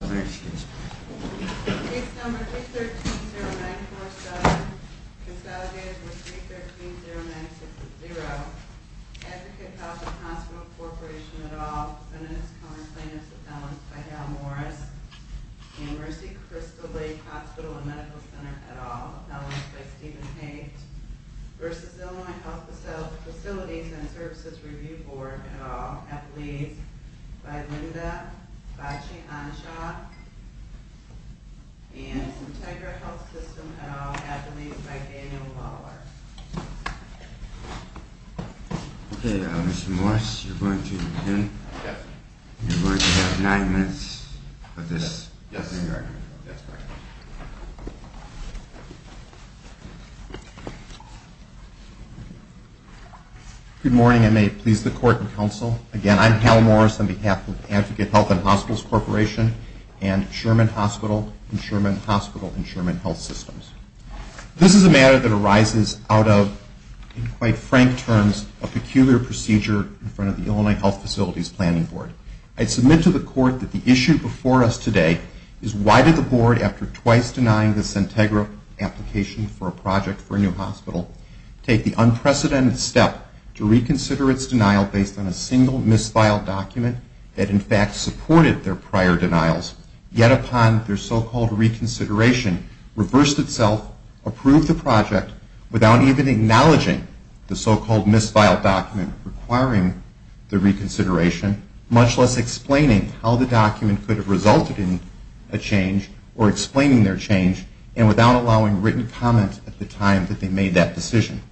Case number 3130947, consolidated with 3130960, Advocate Health & Hospital Corporation, et al., Sentenced counterclaimants of felons by Hal Morris, and Mercy Crystal Lake Hospital & Medical Center, et al., felons by Stephen Haight, v. Illinois Health Facilities & Services Review Board, et al., Advocate Health & Hospital Corporation, et al., felons by Linda Bachi-Anshaw, and Sentegra Health System, et al., felons by Daniel Mahler. Okay, Mr. Morris, you're going to begin. Yes. You're going to have nine minutes of this. Yes, sir. Yes, sir. Good morning, and may it please the Court and Counsel. Again, I'm Hal Morris on behalf of Advocate Health & Hospitals Corporation and Sherman Hospital and Sherman Hospital and Sherman Health Systems. This is a matter that arises out of, in quite frank terms, a peculiar procedure in front of the Illinois Health Facilities Planning Board. I submit to the Court that the issue before us today is why did the Board, after twice denying the Sentegra application for a project for a new hospital, take the unprecedented step to reconsider its denial based on a single mis-filed document that, in fact, supported their prior denials, yet upon their so-called reconsideration, reversed itself, approved the project without even acknowledging the so-called mis-filed document requiring the reconsideration, much less explaining how the document could have resulted in a change or explaining their change and without allowing written comment at the time that they made that decision.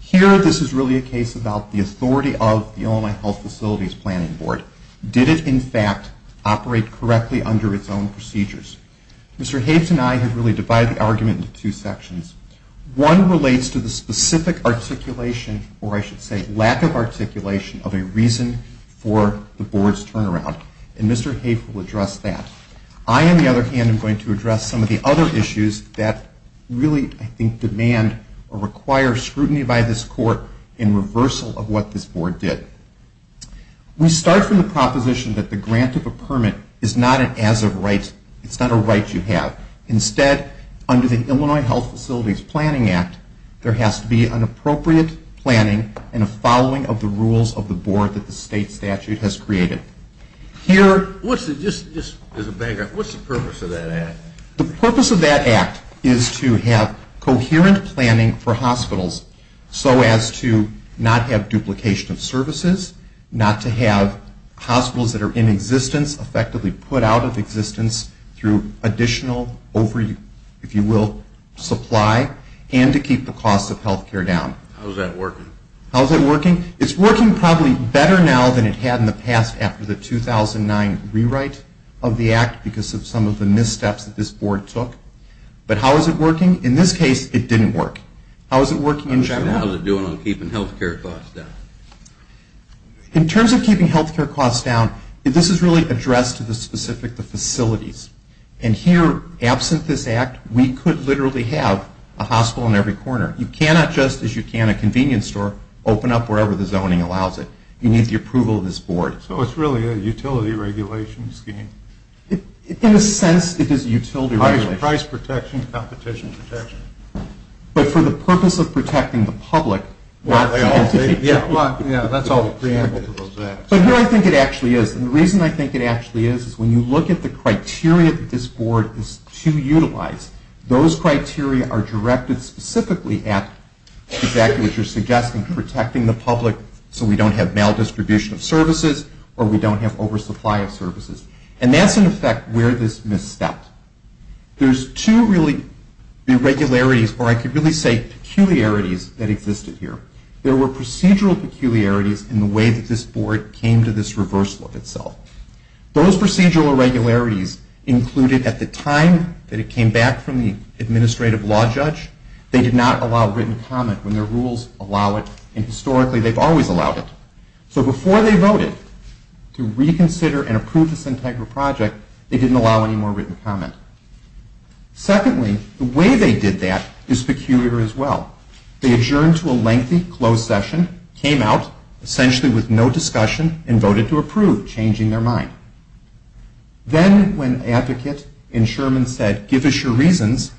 Here, this is really a case about the authority of the Illinois Health Facilities Planning Board. Did it, in fact, operate correctly under its own procedures? Mr. Hayes and I have really divided the argument into two sections. One relates to the specific articulation, or I should say lack of articulation, of a reason for the Board's turnaround. And Mr. Hayes will address that. I, on the other hand, am going to address some of the other issues that really, I think, demand or require scrutiny by this Court in reversal of what this Board did. We start from the proposition that the grant of a permit is not an as-of-right. It's not a right you have. Instead, under the Illinois Health Facilities Planning Act, there has to be an appropriate planning and a following of the rules of the Board that the state statute has created. Here, what's the purpose of that act? The purpose of that act is to have coherent planning for hospitals so as to not have duplication of services, not to have hospitals that are in existence effectively put out of existence through additional over, if you will, supply, and to keep the cost of health care down. How is that working? How is it working? It's working probably better now than it had in the past after the 2009 rewrite of the act because of some of the missteps that this Board took. But how is it working? In this case, it didn't work. How is it working in general? How is it doing on keeping health care costs down? In terms of keeping health care costs down, this is really addressed to the specific facilities. And here, absent this act, we could literally have a hospital in every corner. You cannot just, as you can a convenience store, open up wherever the zoning allows it. You need the approval of this Board. So it's really a utility regulation scheme. In a sense, it is utility regulation. Price protection, competition protection. But for the purpose of protecting the public. Yeah, that's all the preamble to those acts. But here I think it actually is. And the reason I think it actually is, is when you look at the criteria that this Board is to utilize, those criteria are directed specifically at exactly what you're suggesting, protecting the public so we don't have maldistribution of services or we don't have oversupply of services. And that's, in effect, where this misstepped. There's two really irregularities, or I could really say peculiarities, that existed here. There were procedural peculiarities in the way that this Board came to this reverse look itself. Those procedural irregularities included at the time that it came back from the administrative law judge, they did not allow written comment when their rules allow it, and historically they've always allowed it. So before they voted to reconsider and approve the Sintagra project, they didn't allow any more written comment. Secondly, the way they did that is peculiar as well. They adjourned to a lengthy closed session, came out, essentially with no discussion, and voted to approve, changing their mind. Then when advocate and Sherman said, give us your reasons,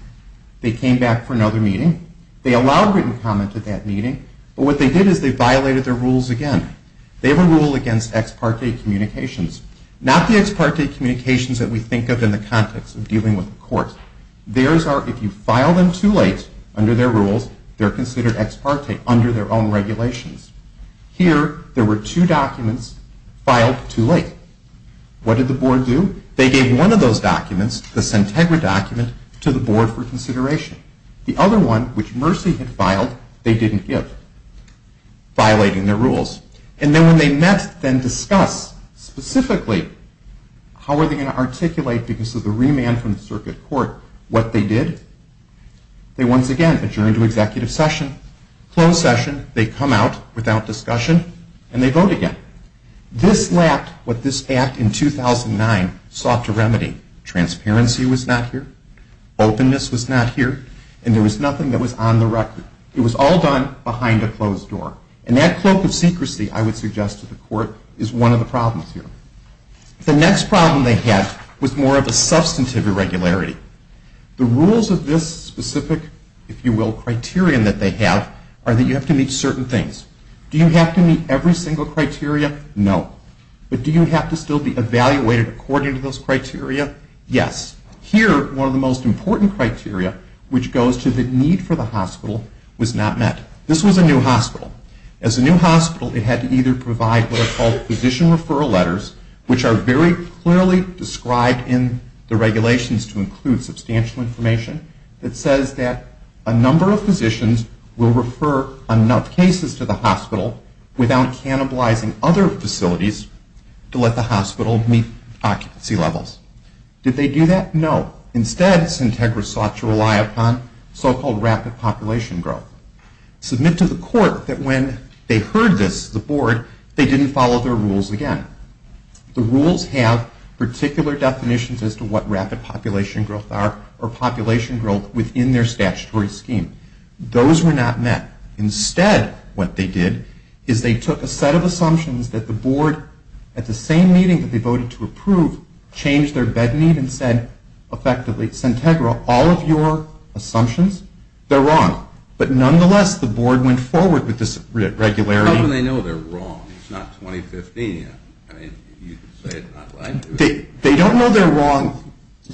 they came back for another meeting. They allowed written comment at that meeting, but what they did is they violated their rules again. They have a rule against ex parte communications. Not the ex parte communications that we think of in the context of dealing with the court. If you file them too late under their rules, they're considered ex parte under their own regulations. Here, there were two documents filed too late. What did the Board do? They gave one of those documents, the Sintagra document, to the Board for consideration. The other one, which Mercy had filed, they didn't give, violating their rules. And then when they met, then discussed specifically how were they going to articulate, because of the remand from the circuit court, what they did, they once again adjourned to executive session, closed session, they come out without discussion, and they vote again. This lacked what this act in 2009 sought to remedy. Transparency was not here. Openness was not here. And there was nothing that was on the record. It was all done behind a closed door. And that cloak of secrecy, I would suggest to the court, is one of the problems here. The next problem they had was more of a substantive irregularity. The rules of this specific, if you will, criterion that they have, are that you have to meet certain things. Do you have to meet every single criteria? No. But do you have to still be evaluated according to those criteria? Yes. Here, one of the most important criteria, which goes to the need for the hospital, was not met. This was a new hospital. As a new hospital, it had to either provide what are called physician referral letters, which are very clearly described in the regulations to include substantial information, that says that a number of physicians will refer enough cases to the hospital without cannibalizing other facilities to let the hospital meet occupancy levels. Did they do that? No. Instead, Sintegra sought to rely upon so-called rapid population growth. Submit to the court that when they heard this, the board, they didn't follow their rules again. The rules have particular definitions as to what rapid population growth are or population growth within their statutory scheme. Those were not met. Instead, what they did is they took a set of assumptions that the board, at the same meeting that they voted to approve, changed their bed need and said effectively, Sintegra, all of your assumptions, they're wrong, but nonetheless, the board went forward with this regularity. How can they know they're wrong? It's not 2015 yet. I mean, you could say it's not right. They don't know they're wrong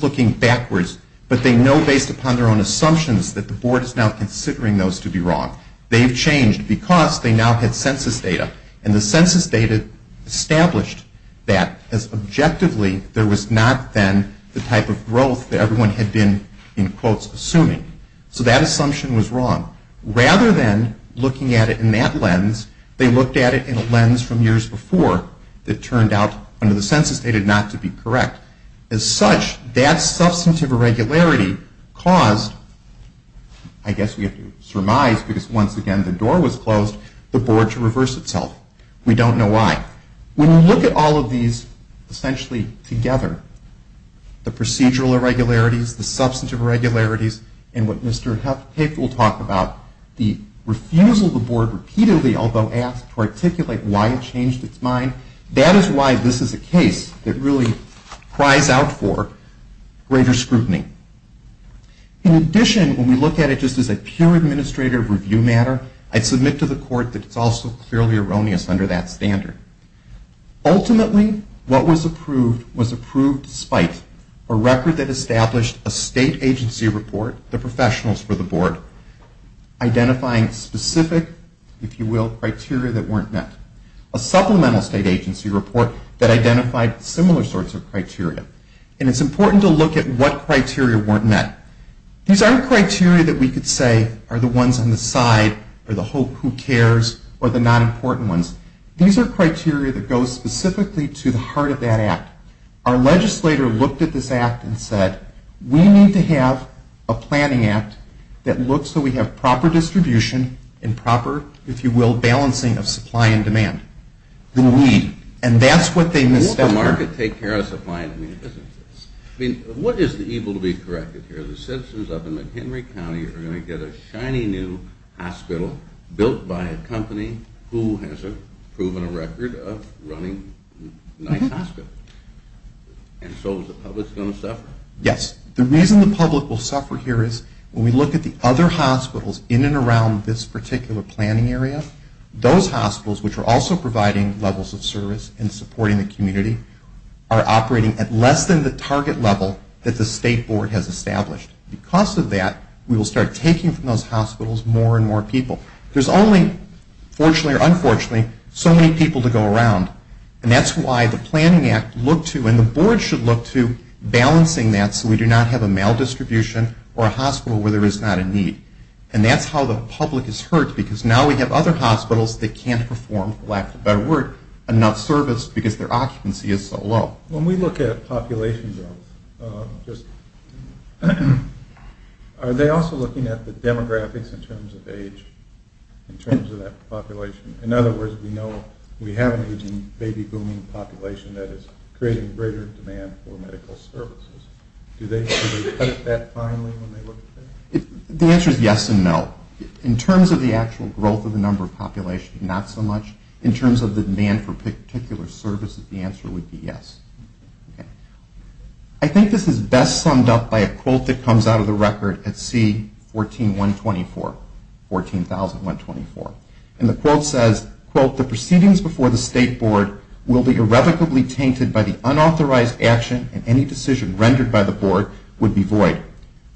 looking backwards, but they know based upon their own assumptions that the board is now considering those to be wrong. They've changed because they now have census data, and the census data established that, as objectively, there was not then the type of growth that everyone had been, in quotes, assuming. So that assumption was wrong. Rather than looking at it in that lens, they looked at it in a lens from years before that turned out, under the census data, not to be correct. As such, that substantive irregularity caused, I guess we have to surmise, because once again the door was closed, the board to reverse itself. We don't know why. When we look at all of these essentially together, the procedural irregularities, the substantive irregularities, and what Mr. Hecht will talk about, the refusal of the board repeatedly, although asked, to articulate why it changed its mind, that is why this is a case that really cries out for greater scrutiny. In addition, when we look at it just as a pure administrative review matter, I'd submit to the court that it's also clearly erroneous under that standard. Ultimately, what was approved was approved despite a record that established a state agency report, the professionals for the board, identifying specific, if you will, criteria that weren't met. A supplemental state agency report that identified similar sorts of criteria. And it's important to look at what criteria weren't met. These aren't criteria that we could say are the ones on the side, or the hope, who cares, or the non-important ones. These are criteria that go specifically to the heart of that act. Our legislator looked at this act and said, we need to have a planning act that looks so we have proper distribution and proper, if you will, balancing of supply and demand. And that's what they missed out on. Will the market take care of supply and demand businesses? I mean, what is the evil to be corrected here? The citizens up in McHenry County are going to get a shiny new hospital built by a company who has proven a record of running nice hospitals. And so is the public going to suffer? Yes. The reason the public will suffer here is when we look at the other hospitals in and around this particular planning area, those hospitals, which are also providing levels of service and supporting the community, are operating at less than the target level that the state board has established. Because of that, we will start taking from those hospitals more and more people. There's only, fortunately or unfortunately, so many people to go around. And that's why the planning act looked to and the board should look to balancing that so we do not have a maldistribution or a hospital where there is not a need. And that's how the public is hurt because now we have other hospitals that can't perform, for lack of a better word, enough service because their occupancy is so low. When we look at population growth, are they also looking at the demographics in terms of age, in terms of that population? In other words, we know we have an aging, baby-booming population that is creating greater demand for medical services. Do they look at that finely when they look at that? The answer is yes and no. In terms of the actual growth of the number of population, not so much. In terms of the demand for particular services, the answer would be yes. I think this is best summed up by a quote that comes out of the record at C14124, 14,124. And the quote says, quote, the proceedings before the state board will be irrevocably tainted by the unauthorized action and any decision rendered by the board would be void.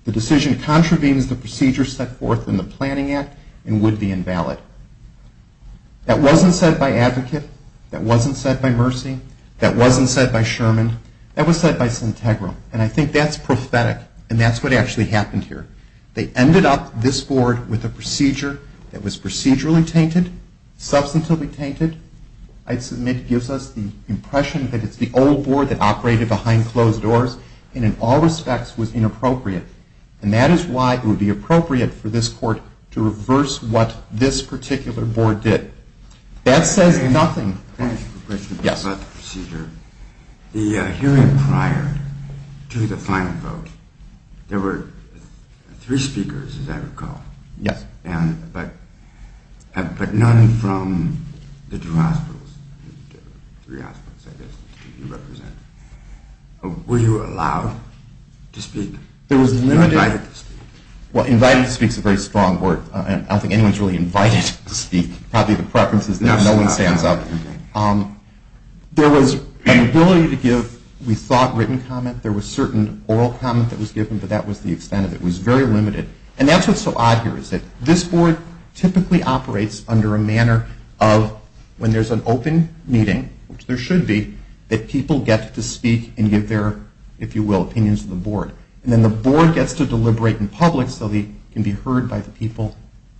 The decision contravenes the procedure set forth in the planning act and would be invalid. That wasn't said by Advocate. That wasn't said by Mercy. That wasn't said by Sherman. That was said by Sintegra. And I think that's prophetic. And that's what actually happened here. They ended up, this board, with a procedure that was procedurally tainted, substantively tainted. I submit it gives us the impression that it's the old board that operated behind closed doors and in all respects was inappropriate. And that is why it would be appropriate for this court to reverse what this particular board did. That says nothing. I have a question about the procedure. The hearing prior to the final vote, there were three speakers, as I recall. Yes. But none from the two hospitals, three hospitals, I guess, that you represent. Were you allowed to speak? You were invited to speak. Well, invited to speak is a very strong word. I don't think anyone is really invited to speak. Probably the preference is that no one stands up. There was an ability to give, we thought, written comment. There was certain oral comment that was given, but that was the extent of it. It was very limited. And that's what's so odd here is that this board typically operates under a manner of, when there's an open meeting, which there should be, that people get to speak and give their, if you will, opinions to the board. And then the board gets to deliberate in public so they can be heard by the people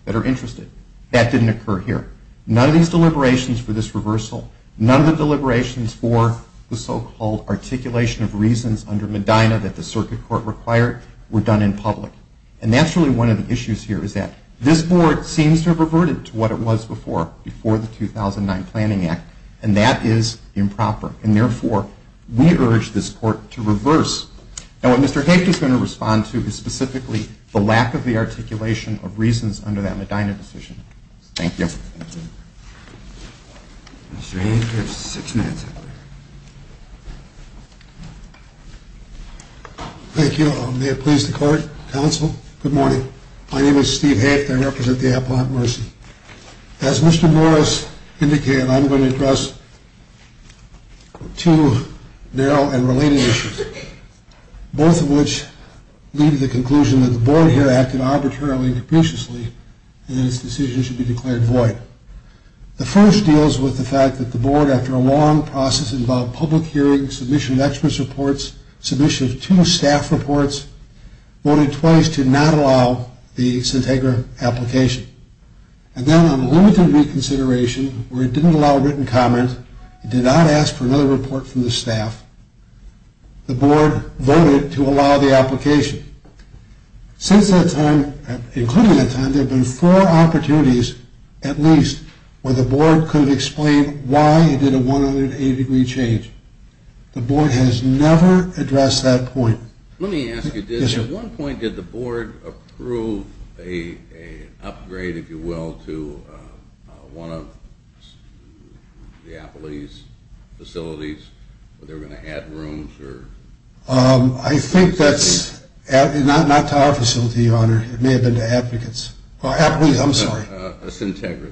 that are interested. That didn't occur here. None of these deliberations for this reversal, none of the deliberations for the so-called articulation of reasons under Medina that the circuit court required were done in public. And that's really one of the issues here is that this board seems to have reverted to what it was before, before the 2009 Planning Act, and that is improper. And therefore, we urge this court to reverse. And what Mr. Haft is going to respond to is specifically the lack of the articulation of reasons under that Medina decision. Thank you. Mr. Haft, you have six minutes. Thank you. May it please the court, counsel, good morning. My name is Steve Haft. I represent the Appalachian Mercy. As Mr. Morris indicated, I'm going to address two narrow and related issues, both of which lead to the conclusion that the board here acted arbitrarily and capriciously and that its decision should be declared void. The first deals with the fact that the board, after a long process involving public hearings, submission of experts' reports, submission of two staff reports, voted twice to not allow the Sintagra application. And then on limited reconsideration, where it didn't allow written comments, it did not ask for another report from the staff, the board voted to allow the application. Since that time, including that time, there have been four opportunities, at least, where the board could explain why it did a 180-degree change. The board has never addressed that point. Let me ask you, at one point did the board approve an upgrade, if you will, to one of the Appalachian facilities where they were going to add rooms? I think that's not to our facility, Your Honor. It may have been to Appalachian, I'm sorry. Sintagra.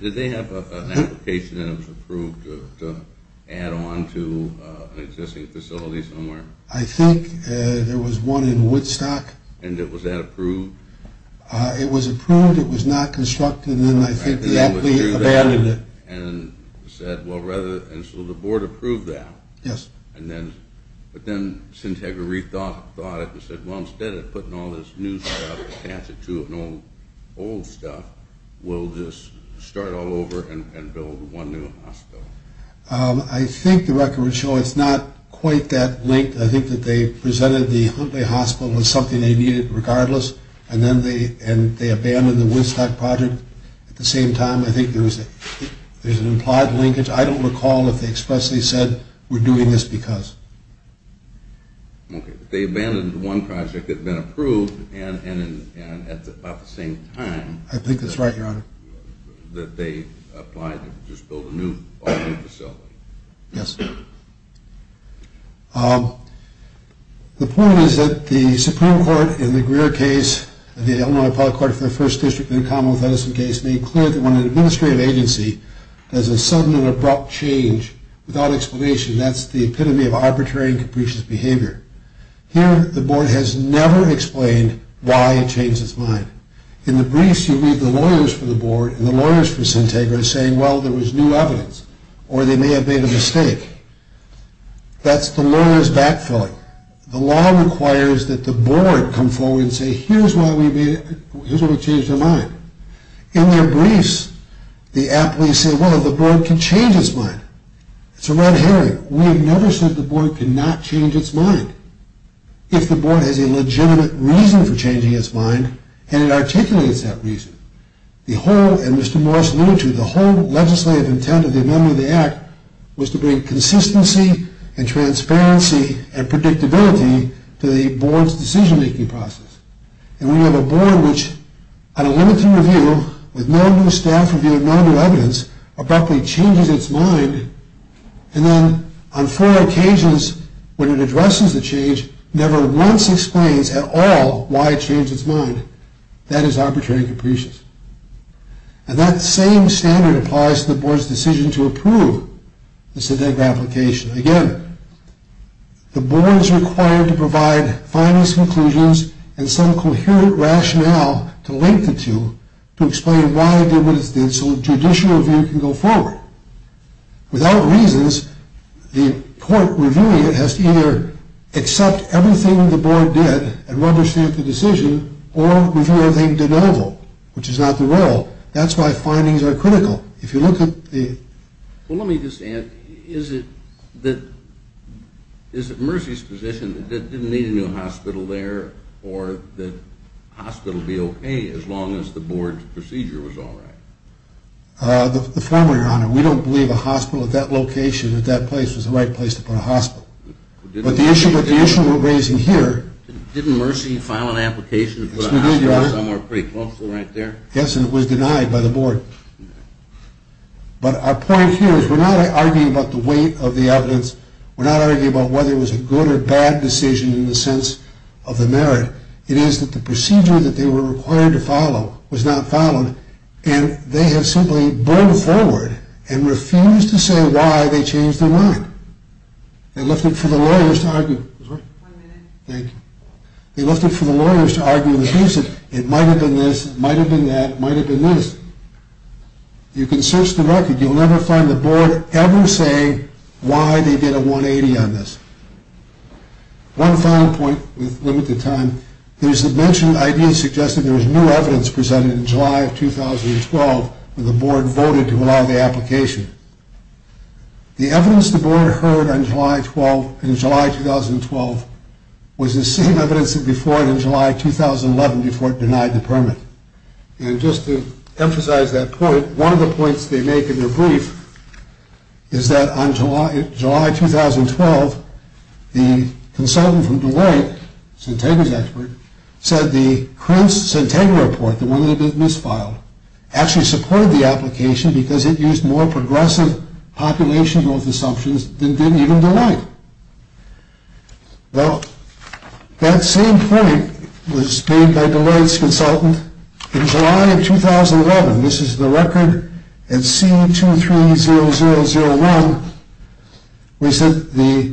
Did they have an application that was approved to add on to an existing facility somewhere? I think there was one in Woodstock. And was that approved? It was approved. It was not constructed. And then I think the athlete abandoned it. And so the board approved that. Yes. But then Sintagra rethought it and said, well, instead of putting all this new stuff, we'll pass it to an old stuff. We'll just start all over and build one new hospital. I think the record would show it's not quite that linked. I think that they presented the Huntley Hospital as something they needed regardless, and then they abandoned the Woodstock project at the same time. I think there's an implied linkage. I don't recall if they expressly said we're doing this because. Okay. They abandoned one project that had been approved and at about the same time. I think that's right, Your Honor. That they applied to just build a new facility. Yes. The point is that the Supreme Court in the Greer case and the Illinois Appellate Court for the First District in the Commonwealth Edison case made clear that when an administrative agency does a sudden and abrupt change without explanation, that's the epitome of arbitrary and capricious behavior. Here the board has never explained why it changed its mind. In the briefs you read the lawyers for the board and the lawyers for Syntagra saying, well, there was new evidence, or they may have made a mistake. That's the lawyer's backfilling. The law requires that the board come forward and say, here's why we changed our mind. In their briefs, the appellees say, well, the board can change its mind. It's a red herring. We have never said the board cannot change its mind. If the board has a legitimate reason for changing its mind, and it articulates that reason. The whole, and Mr. Morris alluded to, the whole legislative intent of the amendment of the Act was to bring consistency and transparency and predictability to the board's decision-making process. And we have a board which, on a limited review, with no new staff review and no new evidence, abruptly changes its mind. And then, on four occasions, when it addresses the change, never once explains at all why it changed its mind. That is arbitrary and capricious. And that same standard applies to the board's decision to approve the Syntagra application. Again, the board is required to provide finalist conclusions and some coherent rationale to link the two to explain why it did what it did so a judicial review can go forward. Without reasons, the court reviewing it has to either accept everything the board did and understand the decision or review everything de novo, which is not the rule. That's why findings are critical. If you look at the... Well, let me just add, is it that, is it Mercy's position that there didn't need a new hospital there or that a hospital would be okay as long as the board's procedure was all right? The former, Your Honor. We don't believe a hospital at that location, at that place, was the right place to put a hospital. But the issue we're raising here... Didn't Mercy file an application to put a hospital somewhere pretty close to right there? Yes, and it was denied by the board. But our point here is we're not arguing about the weight of the evidence. We're not arguing about whether it was a good or bad decision in the sense of the merit. It is that the procedure that they were required to follow was not followed and they have simply borne forward and refused to say why they changed their mind. They left it for the lawyers to argue... One minute. Thank you. They left it for the lawyers to argue the reason. It might have been this. It might have been that. It might have been this. You can search the record. You'll never find the board ever saying why they did a 180 on this. One final point with limited time. There's a mentioned idea suggesting there was new evidence presented in July of 2012 when the board voted to allow the application. The evidence the board heard on July 12, in July 2012, was the same evidence as before in July 2011 before it denied the permit. And just to emphasize that point, one of the points they make in their brief is that on July 2012, the consultant from Deloitte, Centegra's expert, said the current Centegra report, the one that had been misfiled, actually supported the application because it used more progressive population growth assumptions than did even Deloitte. Well, that same point was made by Deloitte's consultant in July of 2011. This is the record at C230001. We said the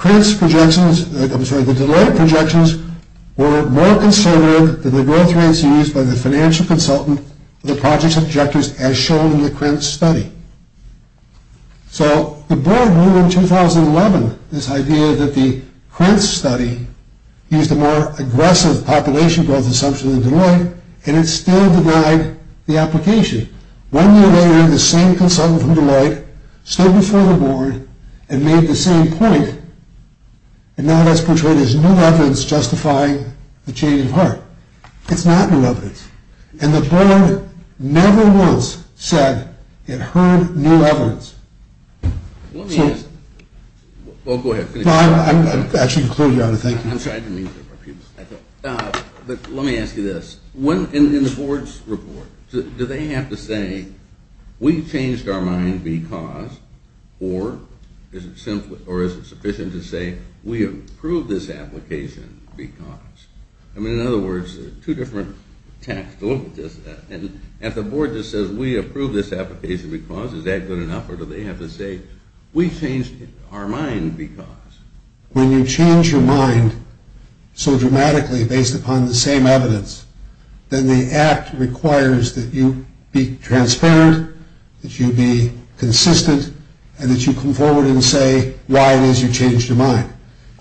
Deloitte projections were more conservative than the growth rates used by the financial consultant for the project's objectives as shown in the Crenn study. So the board ruled in 2011 this idea that the Crenn study used a more aggressive population growth assumption than Deloitte, and it still denied the application. One year later, the same consultant from Deloitte stood before the board and made the same point, and now that's portrayed as new evidence justifying the change of heart. It's not new evidence. And the board never once said it heard new evidence. Let me ask you this. In the board's report, do they have to say, we changed our mind because, or is it sufficient to say, we approve this application because? I mean, in other words, two different texts. If the board just says we approve this application because, is that good enough, or do they have to say we changed our mind because? When you change your mind so dramatically based upon the same evidence, then the act requires that you be transparent, that you be consistent, and that you come forward and say why it is you changed your mind.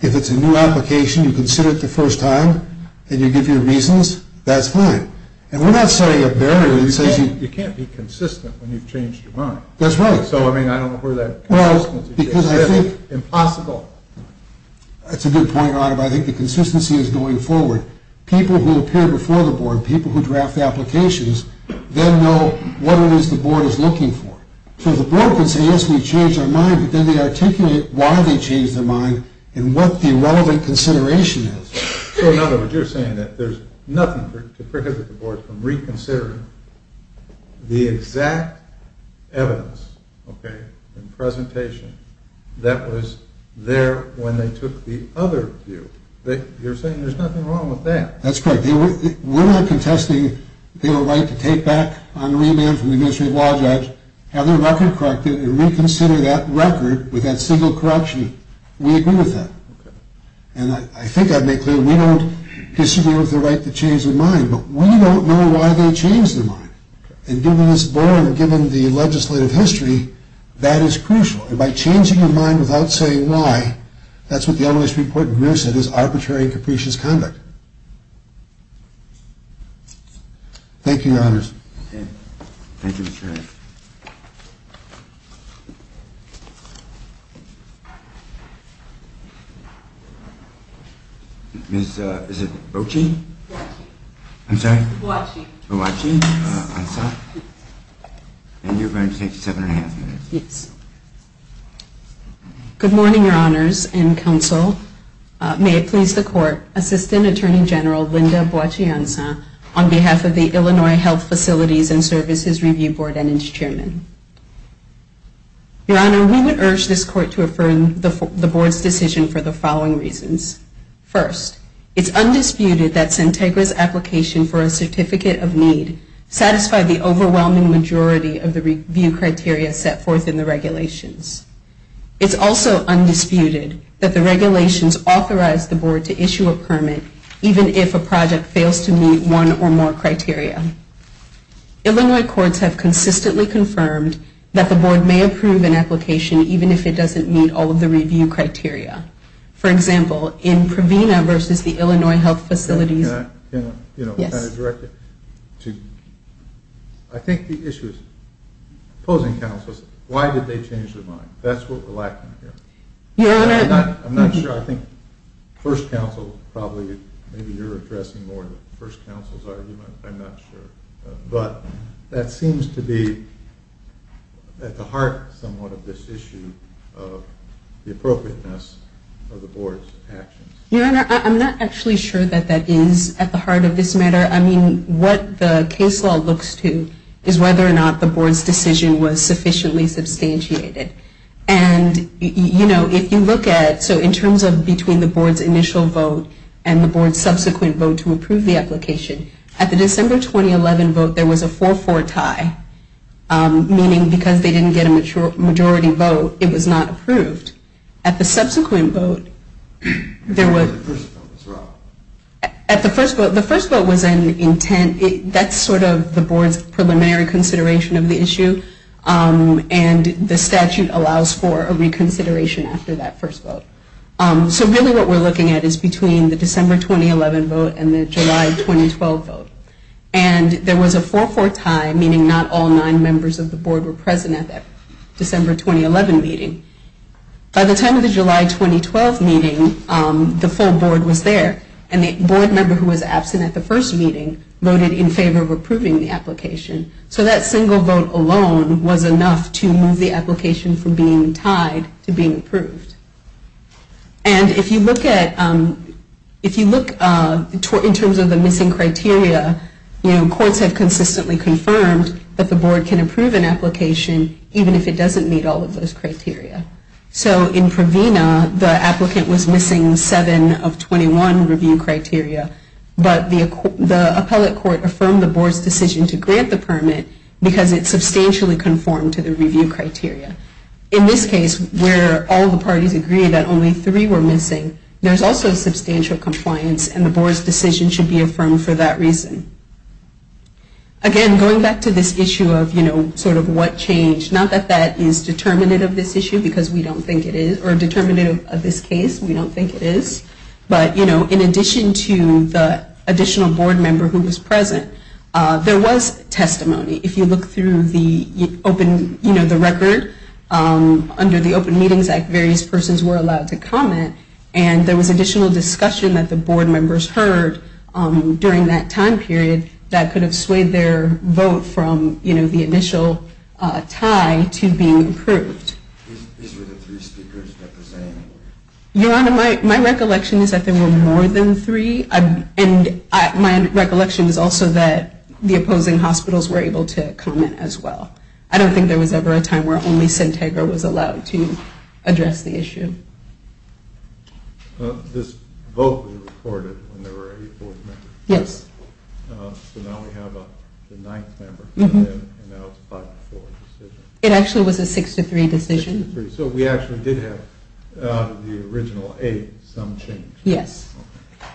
If it's a new application, you consider it the first time, and you give your reasons, that's fine. And we're not setting a barrier that says you can't be consistent when you've changed your mind. That's right. So, I mean, I don't know where that consistency comes in. Well, because I think... It's impossible. That's a good point, Otter, but I think the consistency is going forward. People who appear before the board, people who draft the applications, then know what it is the board is looking for. So the board can say, yes, we changed our mind, but then they articulate why they changed their mind and what the relevant consideration is. So, in other words, you're saying that there's nothing to prohibit the board from reconsidering the exact evidence and presentation that was there when they took the other view. You're saying there's nothing wrong with that. That's correct. We're not contesting their right to take back on remand from the administrative law judge, have their record corrected, and reconsider that record with that single corruption. We agree with that. And I think I've made clear we don't disagree with their right to change their mind, but we don't know why they changed their mind. And given this board and given the legislative history, that is crucial. And by changing your mind without saying why, that's what the L.A. Supreme Court in Greer said is arbitrary and capricious conduct. Thank you, Your Honors. Thank you, Mr. Wright. Good morning, Your Honors and Counsel. May it please the Court, Assistant Attorney General Linda Boakye-Ansah, on behalf of the Illinois Health Facilities and Services Review Board and its chairman. Your Honor, we would urge this Court to affirm the board's decision for the following reasons. First, it's undisputed that Sintegra's application for a certificate of need satisfied the overwhelming majority of the review criteria set forth in the regulations. It's also undisputed that the regulations authorized the board to issue a permit even if a project fails to meet one or more criteria. Illinois courts have consistently confirmed that the board may approve an application even if it doesn't meet all of the review criteria. For example, in Provena versus the Illinois Health Facilities. Can I direct it to, I think the issue is opposing counsels, why did they change their mind? That's what we're lacking here. Your Honor. I'm not sure, I think first counsel probably, maybe you're addressing more of the first counsel's argument, I'm not sure, but that seems to be at the heart somewhat of this issue of the appropriateness of the board's actions. Your Honor, I'm not actually sure that that is at the heart of this matter. I mean, what the case law looks to is whether or not the board's decision was sufficiently substantiated. And, you know, if you look at, so in terms of between the board's initial vote and the board's subsequent vote to approve the application, at the December 2011 vote there was a 4-4 tie, meaning because they didn't get a majority vote, it was not approved. At the subsequent vote, there was. At the first vote, the first vote was an intent, that's sort of the board's preliminary consideration of the issue, and the statute allows for a reconsideration after that first vote. So really what we're looking at is between the December 2011 vote and the July 2012 vote. And there was a 4-4 tie, meaning not all nine members of the board were present at that December 2011 meeting. By the time of the July 2012 meeting, the full board was there, and the board member who was absent at the first meeting voted in favor of approving the application. So that single vote alone was enough to move the application from being tied to being approved. And if you look at, if you look in terms of the missing criteria, you know, courts have consistently confirmed that the board can approve an application even if it doesn't meet all of those criteria. So in Provena, the applicant was missing seven of 21 review criteria, but the appellate court affirmed the board's decision to grant the permit because it substantially conformed to the review criteria. In this case, where all the parties agreed that only three were missing, there's also substantial compliance and the board's decision should be affirmed for that reason. Again, going back to this issue of, you know, sort of what changed, not that that is determinative of this issue because we don't think it is, or determinative of this case, we don't think it is. But, you know, in addition to the additional board member who was present, there was testimony. If you look through the open, you know, the record, under the Open Meetings Act, various persons were allowed to comment, and there was additional discussion that the board members heard during that time period that could have swayed their vote from, you know, the initial tie to being approved. These were the three speakers that the ZANE were? Your Honor, my recollection is that there were more than three, and my recollection is also that the opposing hospitals were able to comment as well. I don't think there was ever a time where only Centegra was allowed to address the issue. This vote was recorded when there were eight board members. Yes. So now we have the ninth member, and that was a 5-4 decision. It actually was a 6-3 decision. So we actually did have the original eight, some change. Yes.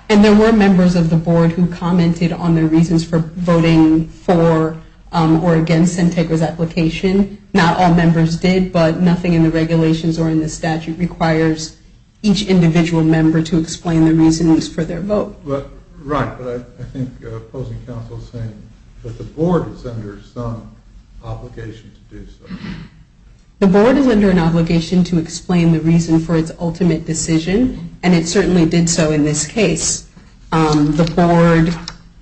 And there were members of the board who commented on the reasons for voting for or against Centegra's application. Not all members did, but nothing in the regulations or in the statute requires each individual member to explain the reasons for their vote. Right, but I think opposing counsel is saying that the board is under some obligation to do so. The board is under an obligation to explain the reason for its ultimate decision, and it certainly did so in this case. The board,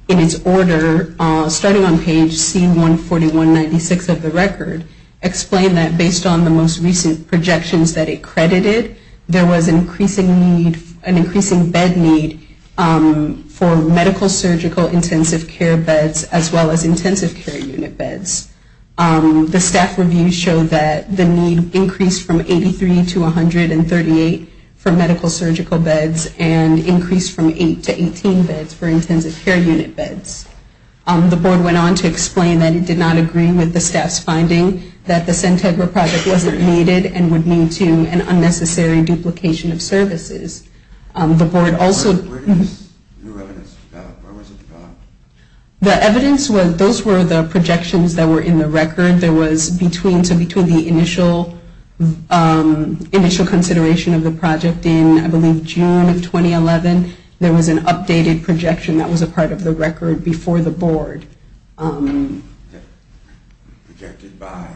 in its order, starting on page C14196 of the record, explained that based on the most recent projections that it credited, there was an increasing bed need for medical-surgical intensive care beds as well as intensive care unit beds. The staff review showed that the need increased from 83 to 138 for medical-surgical beds and increased from 8 to 18 beds for intensive care unit beds. The board went on to explain that it did not agree with the staff's finding that the Centegra project wasn't needed and would lead to an unnecessary duplication of services. The board also... Where did this new evidence come out? Where was it found? The evidence was, those were the projections that were in the record. There was between, so between the initial consideration of the project in, I believe, June of 2011, there was an updated projection that was a part of the record before the board. Projected by?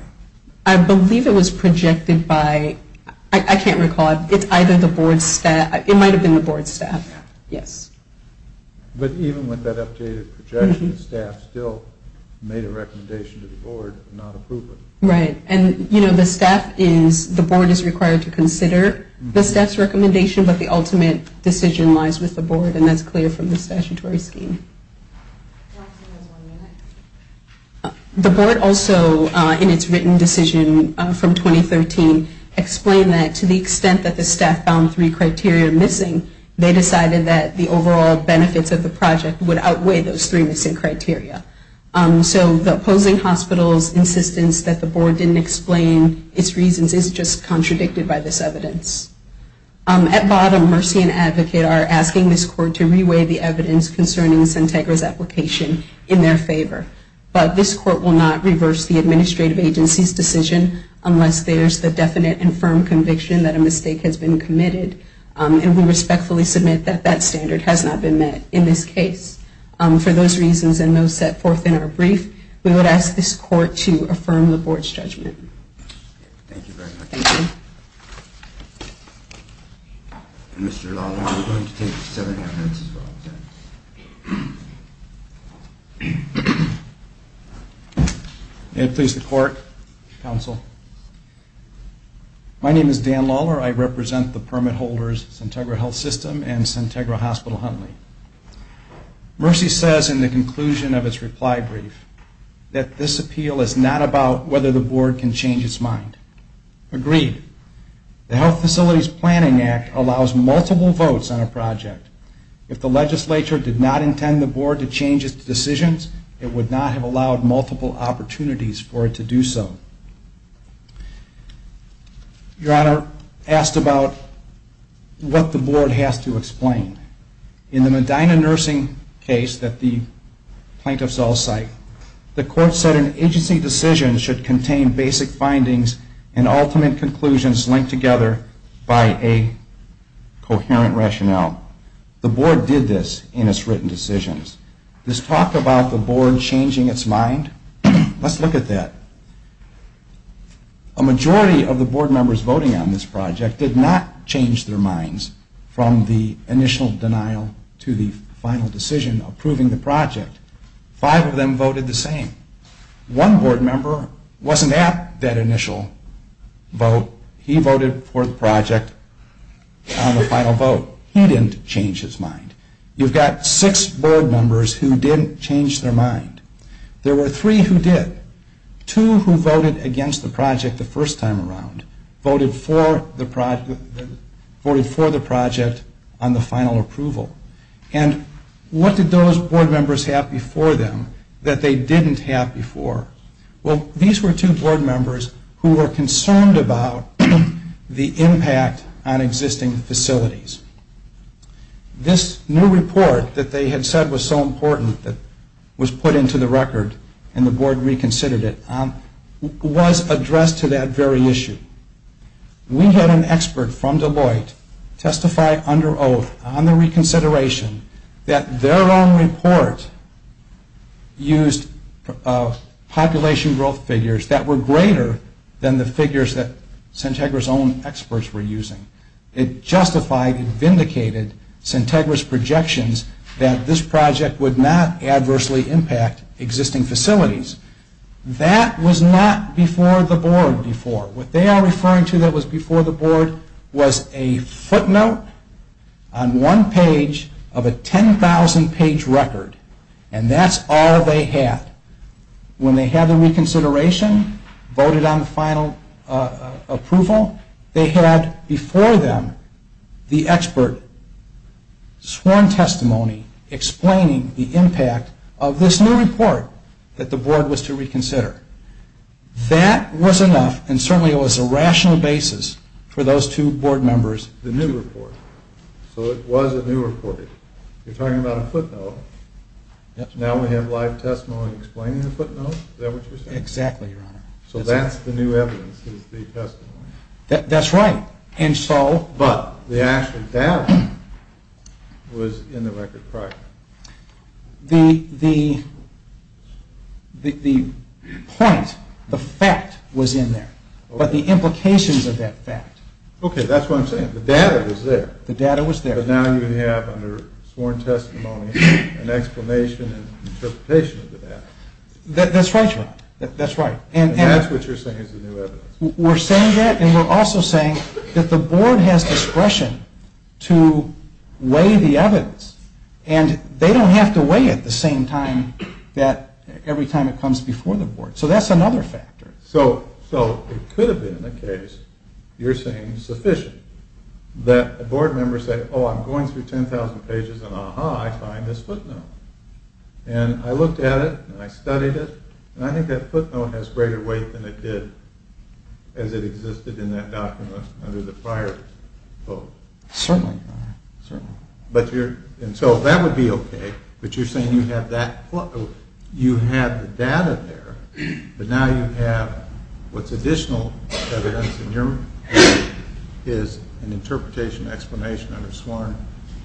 I believe it was projected by... I can't recall. It's either the board staff... It might have been the board staff. Yes. But even with that updated projection, the staff still made a recommendation to the board of not approving it. Right. And, you know, the staff is... The board also, in its written decision from 2013, explained that to the extent that the staff found three criteria missing, they decided that the overall benefits of the project would outweigh those three missing criteria. So the opposing hospital's insistence that the board didn't explain its reasons is just contradicted by this evidence. At bottom, Mercy and Advocate are asking for the board to make a recommendation to re-weigh the evidence concerning Santegra's application in their favor. But this court will not reverse the administrative agency's decision unless there's the definite and firm conviction that a mistake has been committed. And we respectfully submit that that standard has not been met in this case. For those reasons and those set forth in our brief, we would ask this court to affirm the board's judgment. Thank you very much. Thank you. Mr. Lawler, you're going to take seven minutes as well. May it please the court, counsel. My name is Dan Lawler. I represent the permit holders, Santegra Health System and Santegra Hospital Huntley. Mercy says in the conclusion of its reply brief that this appeal is not about whether the board can change its mind. Agreed. The Health Facilities Planning Act allows multiple votes on a project. If the legislature did not intend the board to change its decisions, it would not have allowed multiple opportunities for it to do so. Your Honor, asked about what the board has to explain. In the Medina nursing case that the plaintiffs all cite, the court said an agency decision should contain basic findings and ultimate conclusions linked together by a coherent rationale. The board did this in its written decisions. This talk about the board changing its mind, let's look at that. A majority of the board members voting on this project did not change their minds from the initial denial to the final decision approving the project. Five of them voted the same. One board member wasn't at that initial vote. He voted for the project on the final vote. He didn't change his mind. You've got six board members who didn't change their mind. There were three who did. Two who voted against the project the first time around. Voted for the project on the final approval. And what did those board members have before them that they didn't have before? Well, these were two board members who were concerned about the impact on existing facilities. This new report that they had said was so important that was put into the record and the board reconsidered it was addressed to that very issue. We had an expert from Deloitte testify under oath on the reconsideration that their own report used population growth figures that were greater than the figures that Centegra's own experts were using. It justified and vindicated Centegra's projections that this project would not adversely impact existing facilities. That was not before the board before. What they are referring to that was before the board was a footnote on one page of a 10,000 page record. And that's all they had. When they had the reconsideration, voted on the final approval, they had before them the expert sworn testimony explaining the impact of this new report that the board was to reconsider. That was enough and certainly it was a rational basis for those two board members. The new report. So it was a new report. You're talking about a footnote. Now we have live testimony explaining the footnote. Is that what you're saying? Exactly, Your Honor. So that's the new evidence is the testimony. That's right. But the actual data was in the record prior. The point, the fact was in there. But the implications of that fact. Okay, that's what I'm saying. The data was there. The data was there. But now you have under sworn testimony an explanation and interpretation of the data. That's right, Your Honor. That's right. And that's what you're saying is the new evidence. We're saying that and we're also saying that the board has discretion to weigh the evidence. And they don't have to weigh it the same time that every time it comes before the board. So that's another factor. So it could have been the case, you're saying, sufficient that a board member said, Oh, I'm going through 10,000 pages and, aha, I find this footnote. And I looked at it and I studied it and I think that footnote has greater weight than it did as it existed in that document under the prior vote. Certainly, Your Honor. Certainly. So that would be okay. But you're saying you have the data there. But now you have what's additional evidence in your view is an interpretation explanation under sworn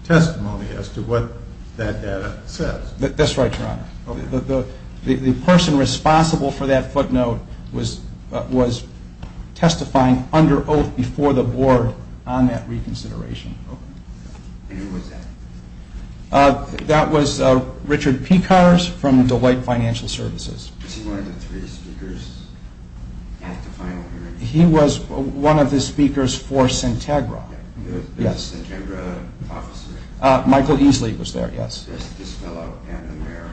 testimony as to what that data says. That's right, Your Honor. The person responsible for that footnote was testifying under oath before the board on that reconsideration. And who was that? That was Richard Pekars from Deloitte Financial Services. Was he one of the three speakers at the final hearing? He was one of the speakers for Sintagra. The Sintagra officer. Michael Eesley was there, yes. This fellow and the mayor.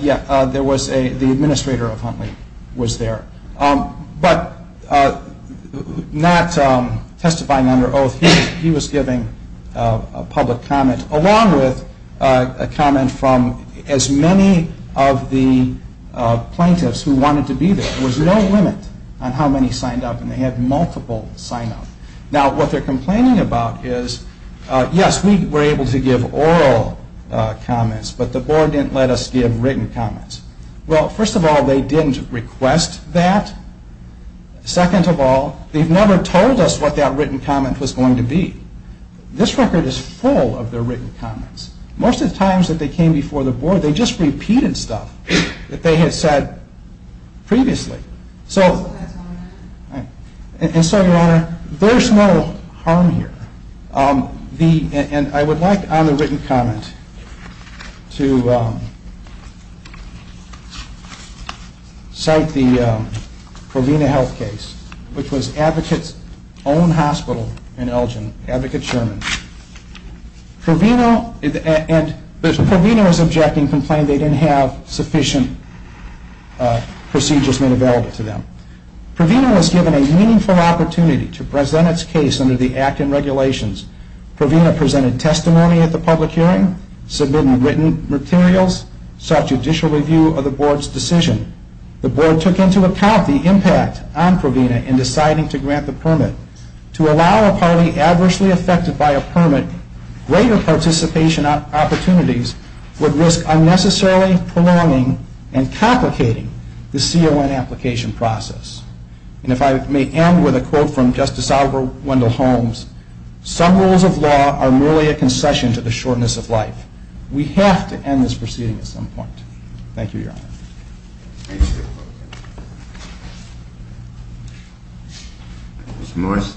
Yeah, the administrator of Huntley was there. But not testifying under oath. He was giving a public comment along with a comment from as many of the plaintiffs who wanted to be there. There was no limit on how many signed up and they had multiple sign up. Now, what they're complaining about is, yes, we were able to give oral comments, but the board didn't let us give written comments. Well, first of all, they didn't request that. Second of all, they've never told us what that written comment was going to be. This record is full of their written comments. Most of the times that they came before the board, they just repeated stuff that they had said previously. And so, Your Honor, there's no harm here. And I would like on the written comment to cite the Provena health case, which was Advocates Own Hospital in Elgin, Advocate Sherman. Provena was objecting, complaining they didn't have sufficient procedures made available to them. Provena was given a meaningful opportunity to present its case under the Act and regulations. Provena presented testimony at the public hearing, submitted written materials, sought judicial review of the board's decision. The board took into account the impact on Provena in deciding to grant the permit. To allow a party adversely affected by a permit, greater participation opportunities would risk unnecessarily prolonging and complicating the CON application process. And if I may end with a quote from Justice Alber Wendell Holmes, some rules of law are merely a concession to the shortness of life. We have to end this proceeding at some point. Thank you, Your Honor. Thank you. Mr. Morris.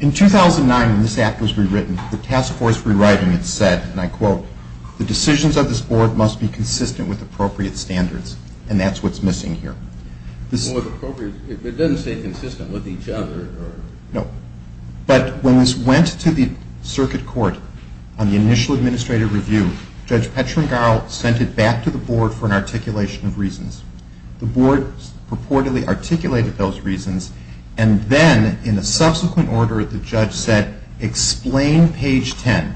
In 2009, when this Act was rewritten, the task force rewriting it said, and I quote, the decisions of this board must be consistent with appropriate standards. And that's what's missing here. It doesn't say consistent with each other. No. But when this went to the circuit court on the initial administrative review, Judge Petrengarl sent it back to the board for an articulation of reasons. The board purportedly articulated those reasons, and then in a subsequent order, the judge said, explain page 10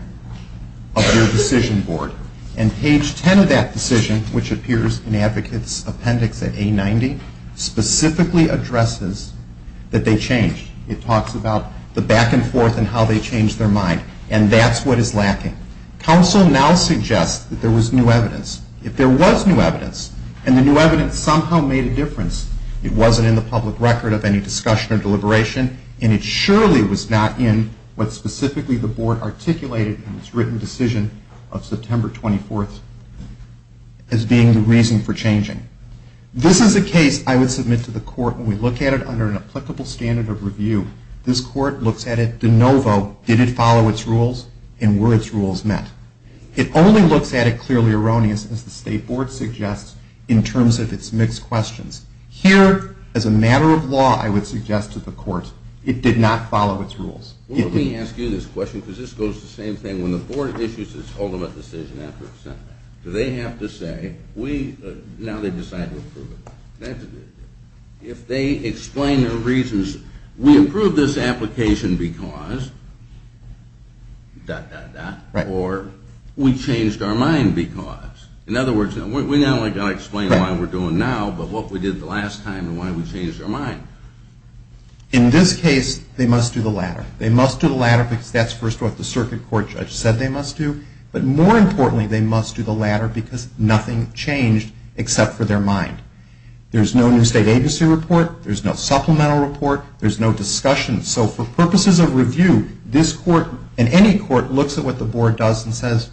of your decision board. And page 10 of that decision, which appears in the advocate's appendix at A90, specifically addresses that they changed. It talks about the back and forth and how they changed their mind. And that's what is lacking. Counsel now suggests that there was new evidence. If there was new evidence, and the new evidence somehow made a difference, it wasn't in the public record of any discussion or deliberation, and it surely was not in what specifically the board articulated in its written decision of September 24th as being the reason for changing. This is a case I would submit to the court when we look at it under an applicable standard of review. This court looks at it de novo. Did it follow its rules, and were its rules met? It only looks at it clearly erroneous, as the state board suggests, in terms of its mixed questions. Here, as a matter of law, I would suggest to the court, it did not follow its rules. Let me ask you this question, because this goes to the same thing. When the board issues its ultimate decision after it's sent, do they have to say, now they've decided to approve it? If they explain their reasons, we approved this application because dot, dot, dot, or we changed our mind because. In other words, we not only got to explain why we're doing now, but what we did the last time and why we changed our mind. In this case, they must do the latter. They must do the latter because that's, first of all, what the circuit court judge said they must do, but more importantly, they must do the latter because nothing changed except for their mind. There's no new state agency report. There's no supplemental report. There's no discussion. So for purposes of review, this court and any court looks at what the board does and says,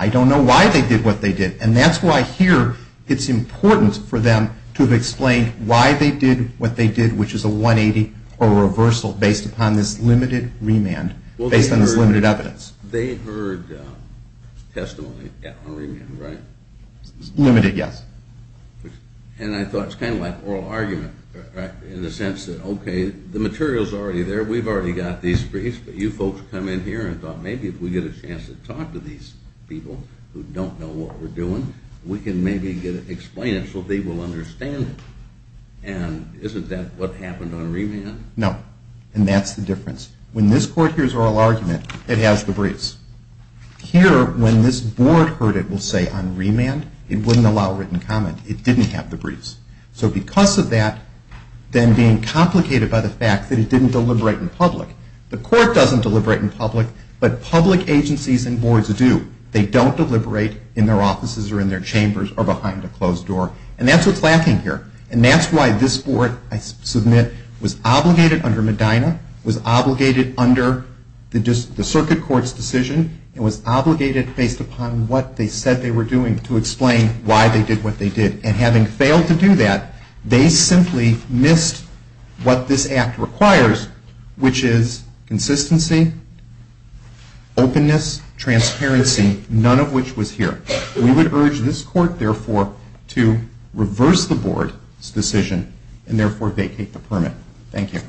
I don't know why they did what they did, and that's why here it's important for them to have explained why they did what they did, which is a 180 or a reversal based upon this limited remand, based on this limited evidence. They heard testimony on remand, right? Limited, yes. And I thought it's kind of like oral argument, right, in the sense that, okay, the material's already there. We've already got these briefs, but you folks come in here and thought, maybe if we get a chance to talk to these people who don't know what we're doing, we can maybe explain it so they will understand it. And isn't that what happened on remand? No, and that's the difference. When this court hears oral argument, it has the briefs. Here, when this board heard it, we'll say on remand, it wouldn't allow written comment. It didn't have the briefs. So because of that, then being complicated by the fact that it didn't deliberate in public, the court doesn't deliberate in public, but public agencies and boards do. They don't deliberate in their offices or in their chambers or behind a closed door, and that's what's lacking here, and that's why this board, I submit, was obligated under Medina, was obligated under the circuit court's decision, and was obligated based upon what they said they were doing to explain why they did what they did. And having failed to do that, they simply missed what this act requires, which is consistency, openness, transparency, none of which was here. We would urge this court, therefore, to reverse the board's decision and, therefore, vacate the permit. Thank you.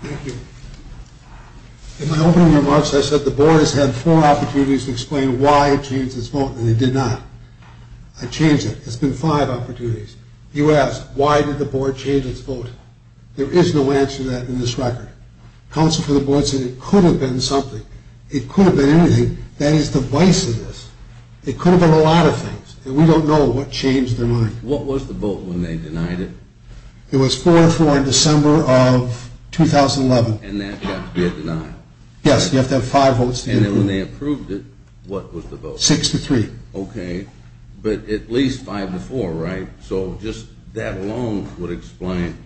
Thank you. In my opening remarks, I said the board has had four opportunities to explain why it changed its vote, and it did not. I changed it. It's been five opportunities. You asked, why did the board change its vote? There is no answer to that in this record. Counsel for the board said it could have been something. It could have been anything. That is the vice of this. It could have been a lot of things. We don't know what changed their mind. What was the vote when they denied it? It was 4-4 in December of 2011. And that got to be a deny? Yes, you have to have five votes to approve. And then when they approved it, what was the vote? Six to three. Okay. But at least five to four, right? So just that alone would explain,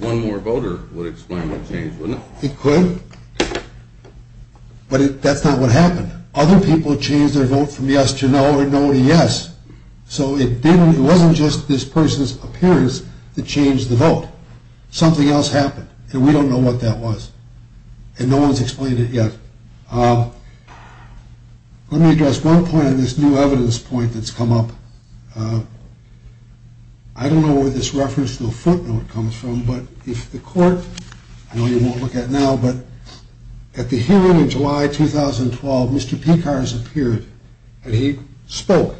one more voter would explain what changed, wouldn't it? It could. But that's not what happened. Other people changed their vote from yes to no or no to yes. So it wasn't just this person's appearance that changed the vote. Something else happened. And we don't know what that was. And no one has explained it yet. Let me address one point on this new evidence point that's come up. I don't know where this reference to a footnote comes from. But if the court, I know you won't look at it now, but at the hearing in July 2012, Mr. Pekars appeared, and he spoke.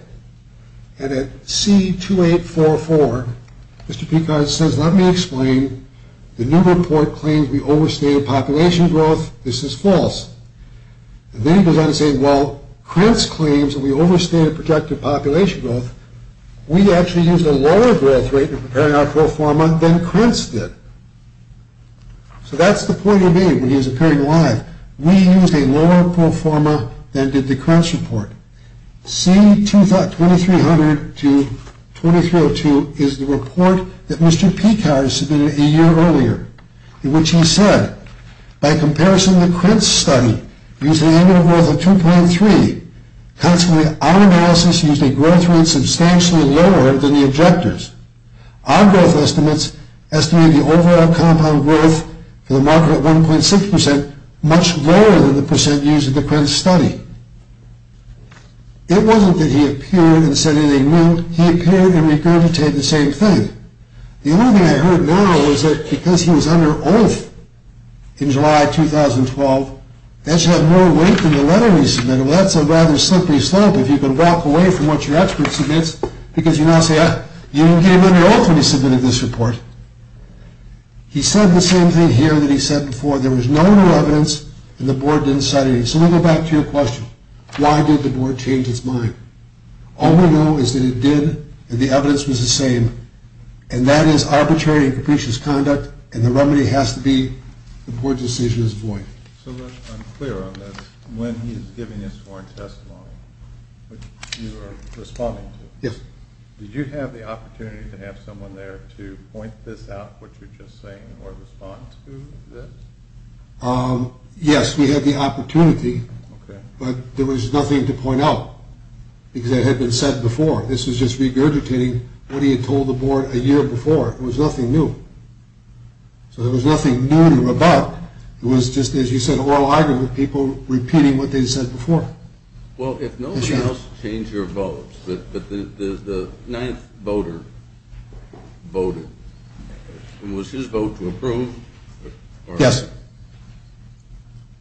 And at C-2844, Mr. Pekars says, let me explain. The new report claims we overstayed population growth. This is false. And then he goes on to say, well, Krentz claims that we overstayed the projected population growth. We actually used a lower growth rate in preparing our proforma than Krentz did. So that's the point he made when he was appearing live. We used a lower proforma than did the Krentz report. C-2300 to 2302 is the report that Mr. Pekars submitted a year earlier in which he said, By comparison, the Krentz study used an annual growth of 2.3. Consequently, our analysis used a growth rate substantially lower than the objectors. Our growth estimates estimate the overall compound growth for the marker at 1.6 percent, much lower than the percent used in the Krentz study. It wasn't that he appeared and said anything new. He appeared and regurgitated the same thing. The only thing I heard now is that because he was under oath in July 2012, that should have more weight than the letter he submitted. Well, that's a rather slippery slope if you can walk away from what your expert submits because you now say, You came under oath when you submitted this report. He said the same thing here that he said before. There was no new evidence and the board didn't cite it. So we go back to your question. Why did the board change its mind? All we know is that it did and the evidence was the same. And that is arbitrary and capricious conduct. And the remedy has to be the board's decision is void. So I'm clear on this. When he is giving his sworn testimony, which you are responding to. Yes. Did you have the opportunity to have someone there to point this out, what you're just saying, or respond to this? Yes, we had the opportunity. But there was nothing to point out because it had been said before. This was just regurgitating what he had told the board a year before. It was nothing new. So there was nothing new to rebut. It was just, as you said, oral argument, people repeating what they said before. Well, if no one else changed their vote, but the ninth voter voted, was his vote to approve? Yes.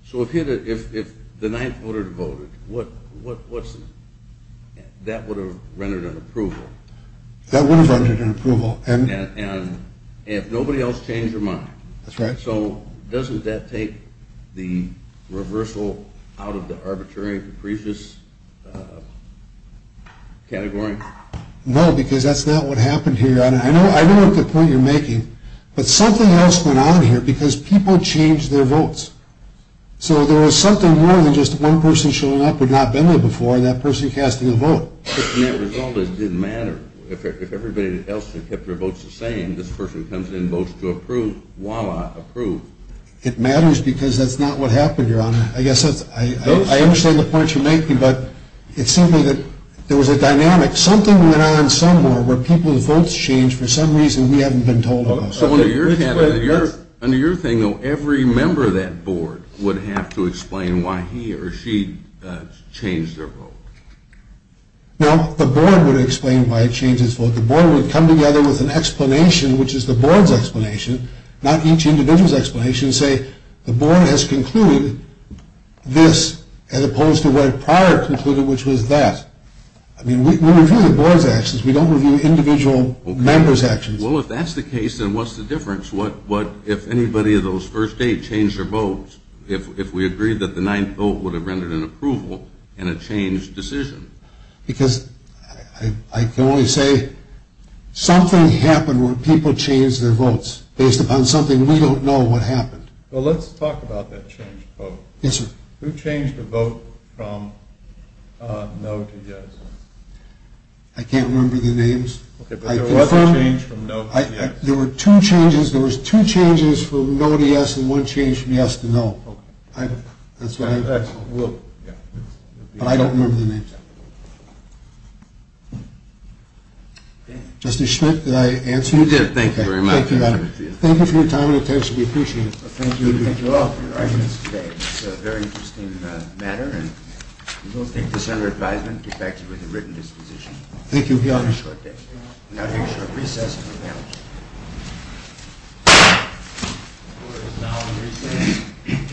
So if the ninth voter voted, that would have rendered an approval. That would have rendered an approval. And if nobody else changed their mind. That's right. So doesn't that take the reversal out of the arbitrary and capricious category? No, because that's not what happened here. I know what the point you're making, but something else went on here because people changed their votes. So there was something more than just one person showing up who had not been there before and that person casting a vote. The net result is it didn't matter. If everybody else had kept their votes the same, this person comes in and votes to approve, voila, approved. It matters because that's not what happened, Your Honor. I understand the point you're making, but it seemed to me that there was a dynamic. Something went on somewhere where people's votes changed for some reason we haven't been told about. Under your thing, though, every member of that board would have to explain why he or she changed their vote. Well, the board would explain why it changed its vote. The board would come together with an explanation, which is the board's explanation, not each individual's explanation, and say the board has concluded this as opposed to what it prior concluded, which was that. I mean, we review the board's actions. We don't review individual members' actions. Well, if that's the case, then what's the difference? If anybody of those first eight changed their votes, if we agreed that the ninth vote would have rendered an approval and a changed decision? Because I can only say something happened where people changed their votes based upon something we don't know what happened. Well, let's talk about that changed vote. Yes, sir. Who changed the vote from no to yes? I can't remember the names. Okay, but there was a change from no to yes. There were two changes. There was two changes from no to yes and one change from yes to no. But I don't remember the names. Justice Schmidt, did I answer you? You did. Thank you very much. Thank you for your time and attention. We appreciate it. Thank you. Thank you all for your arguments today. It's a very interesting matter. And we'll take this under advisement and get back to you with a written disposition. Thank you. We'll be on a short break. We'll now take a short recess and we'll be on a short break.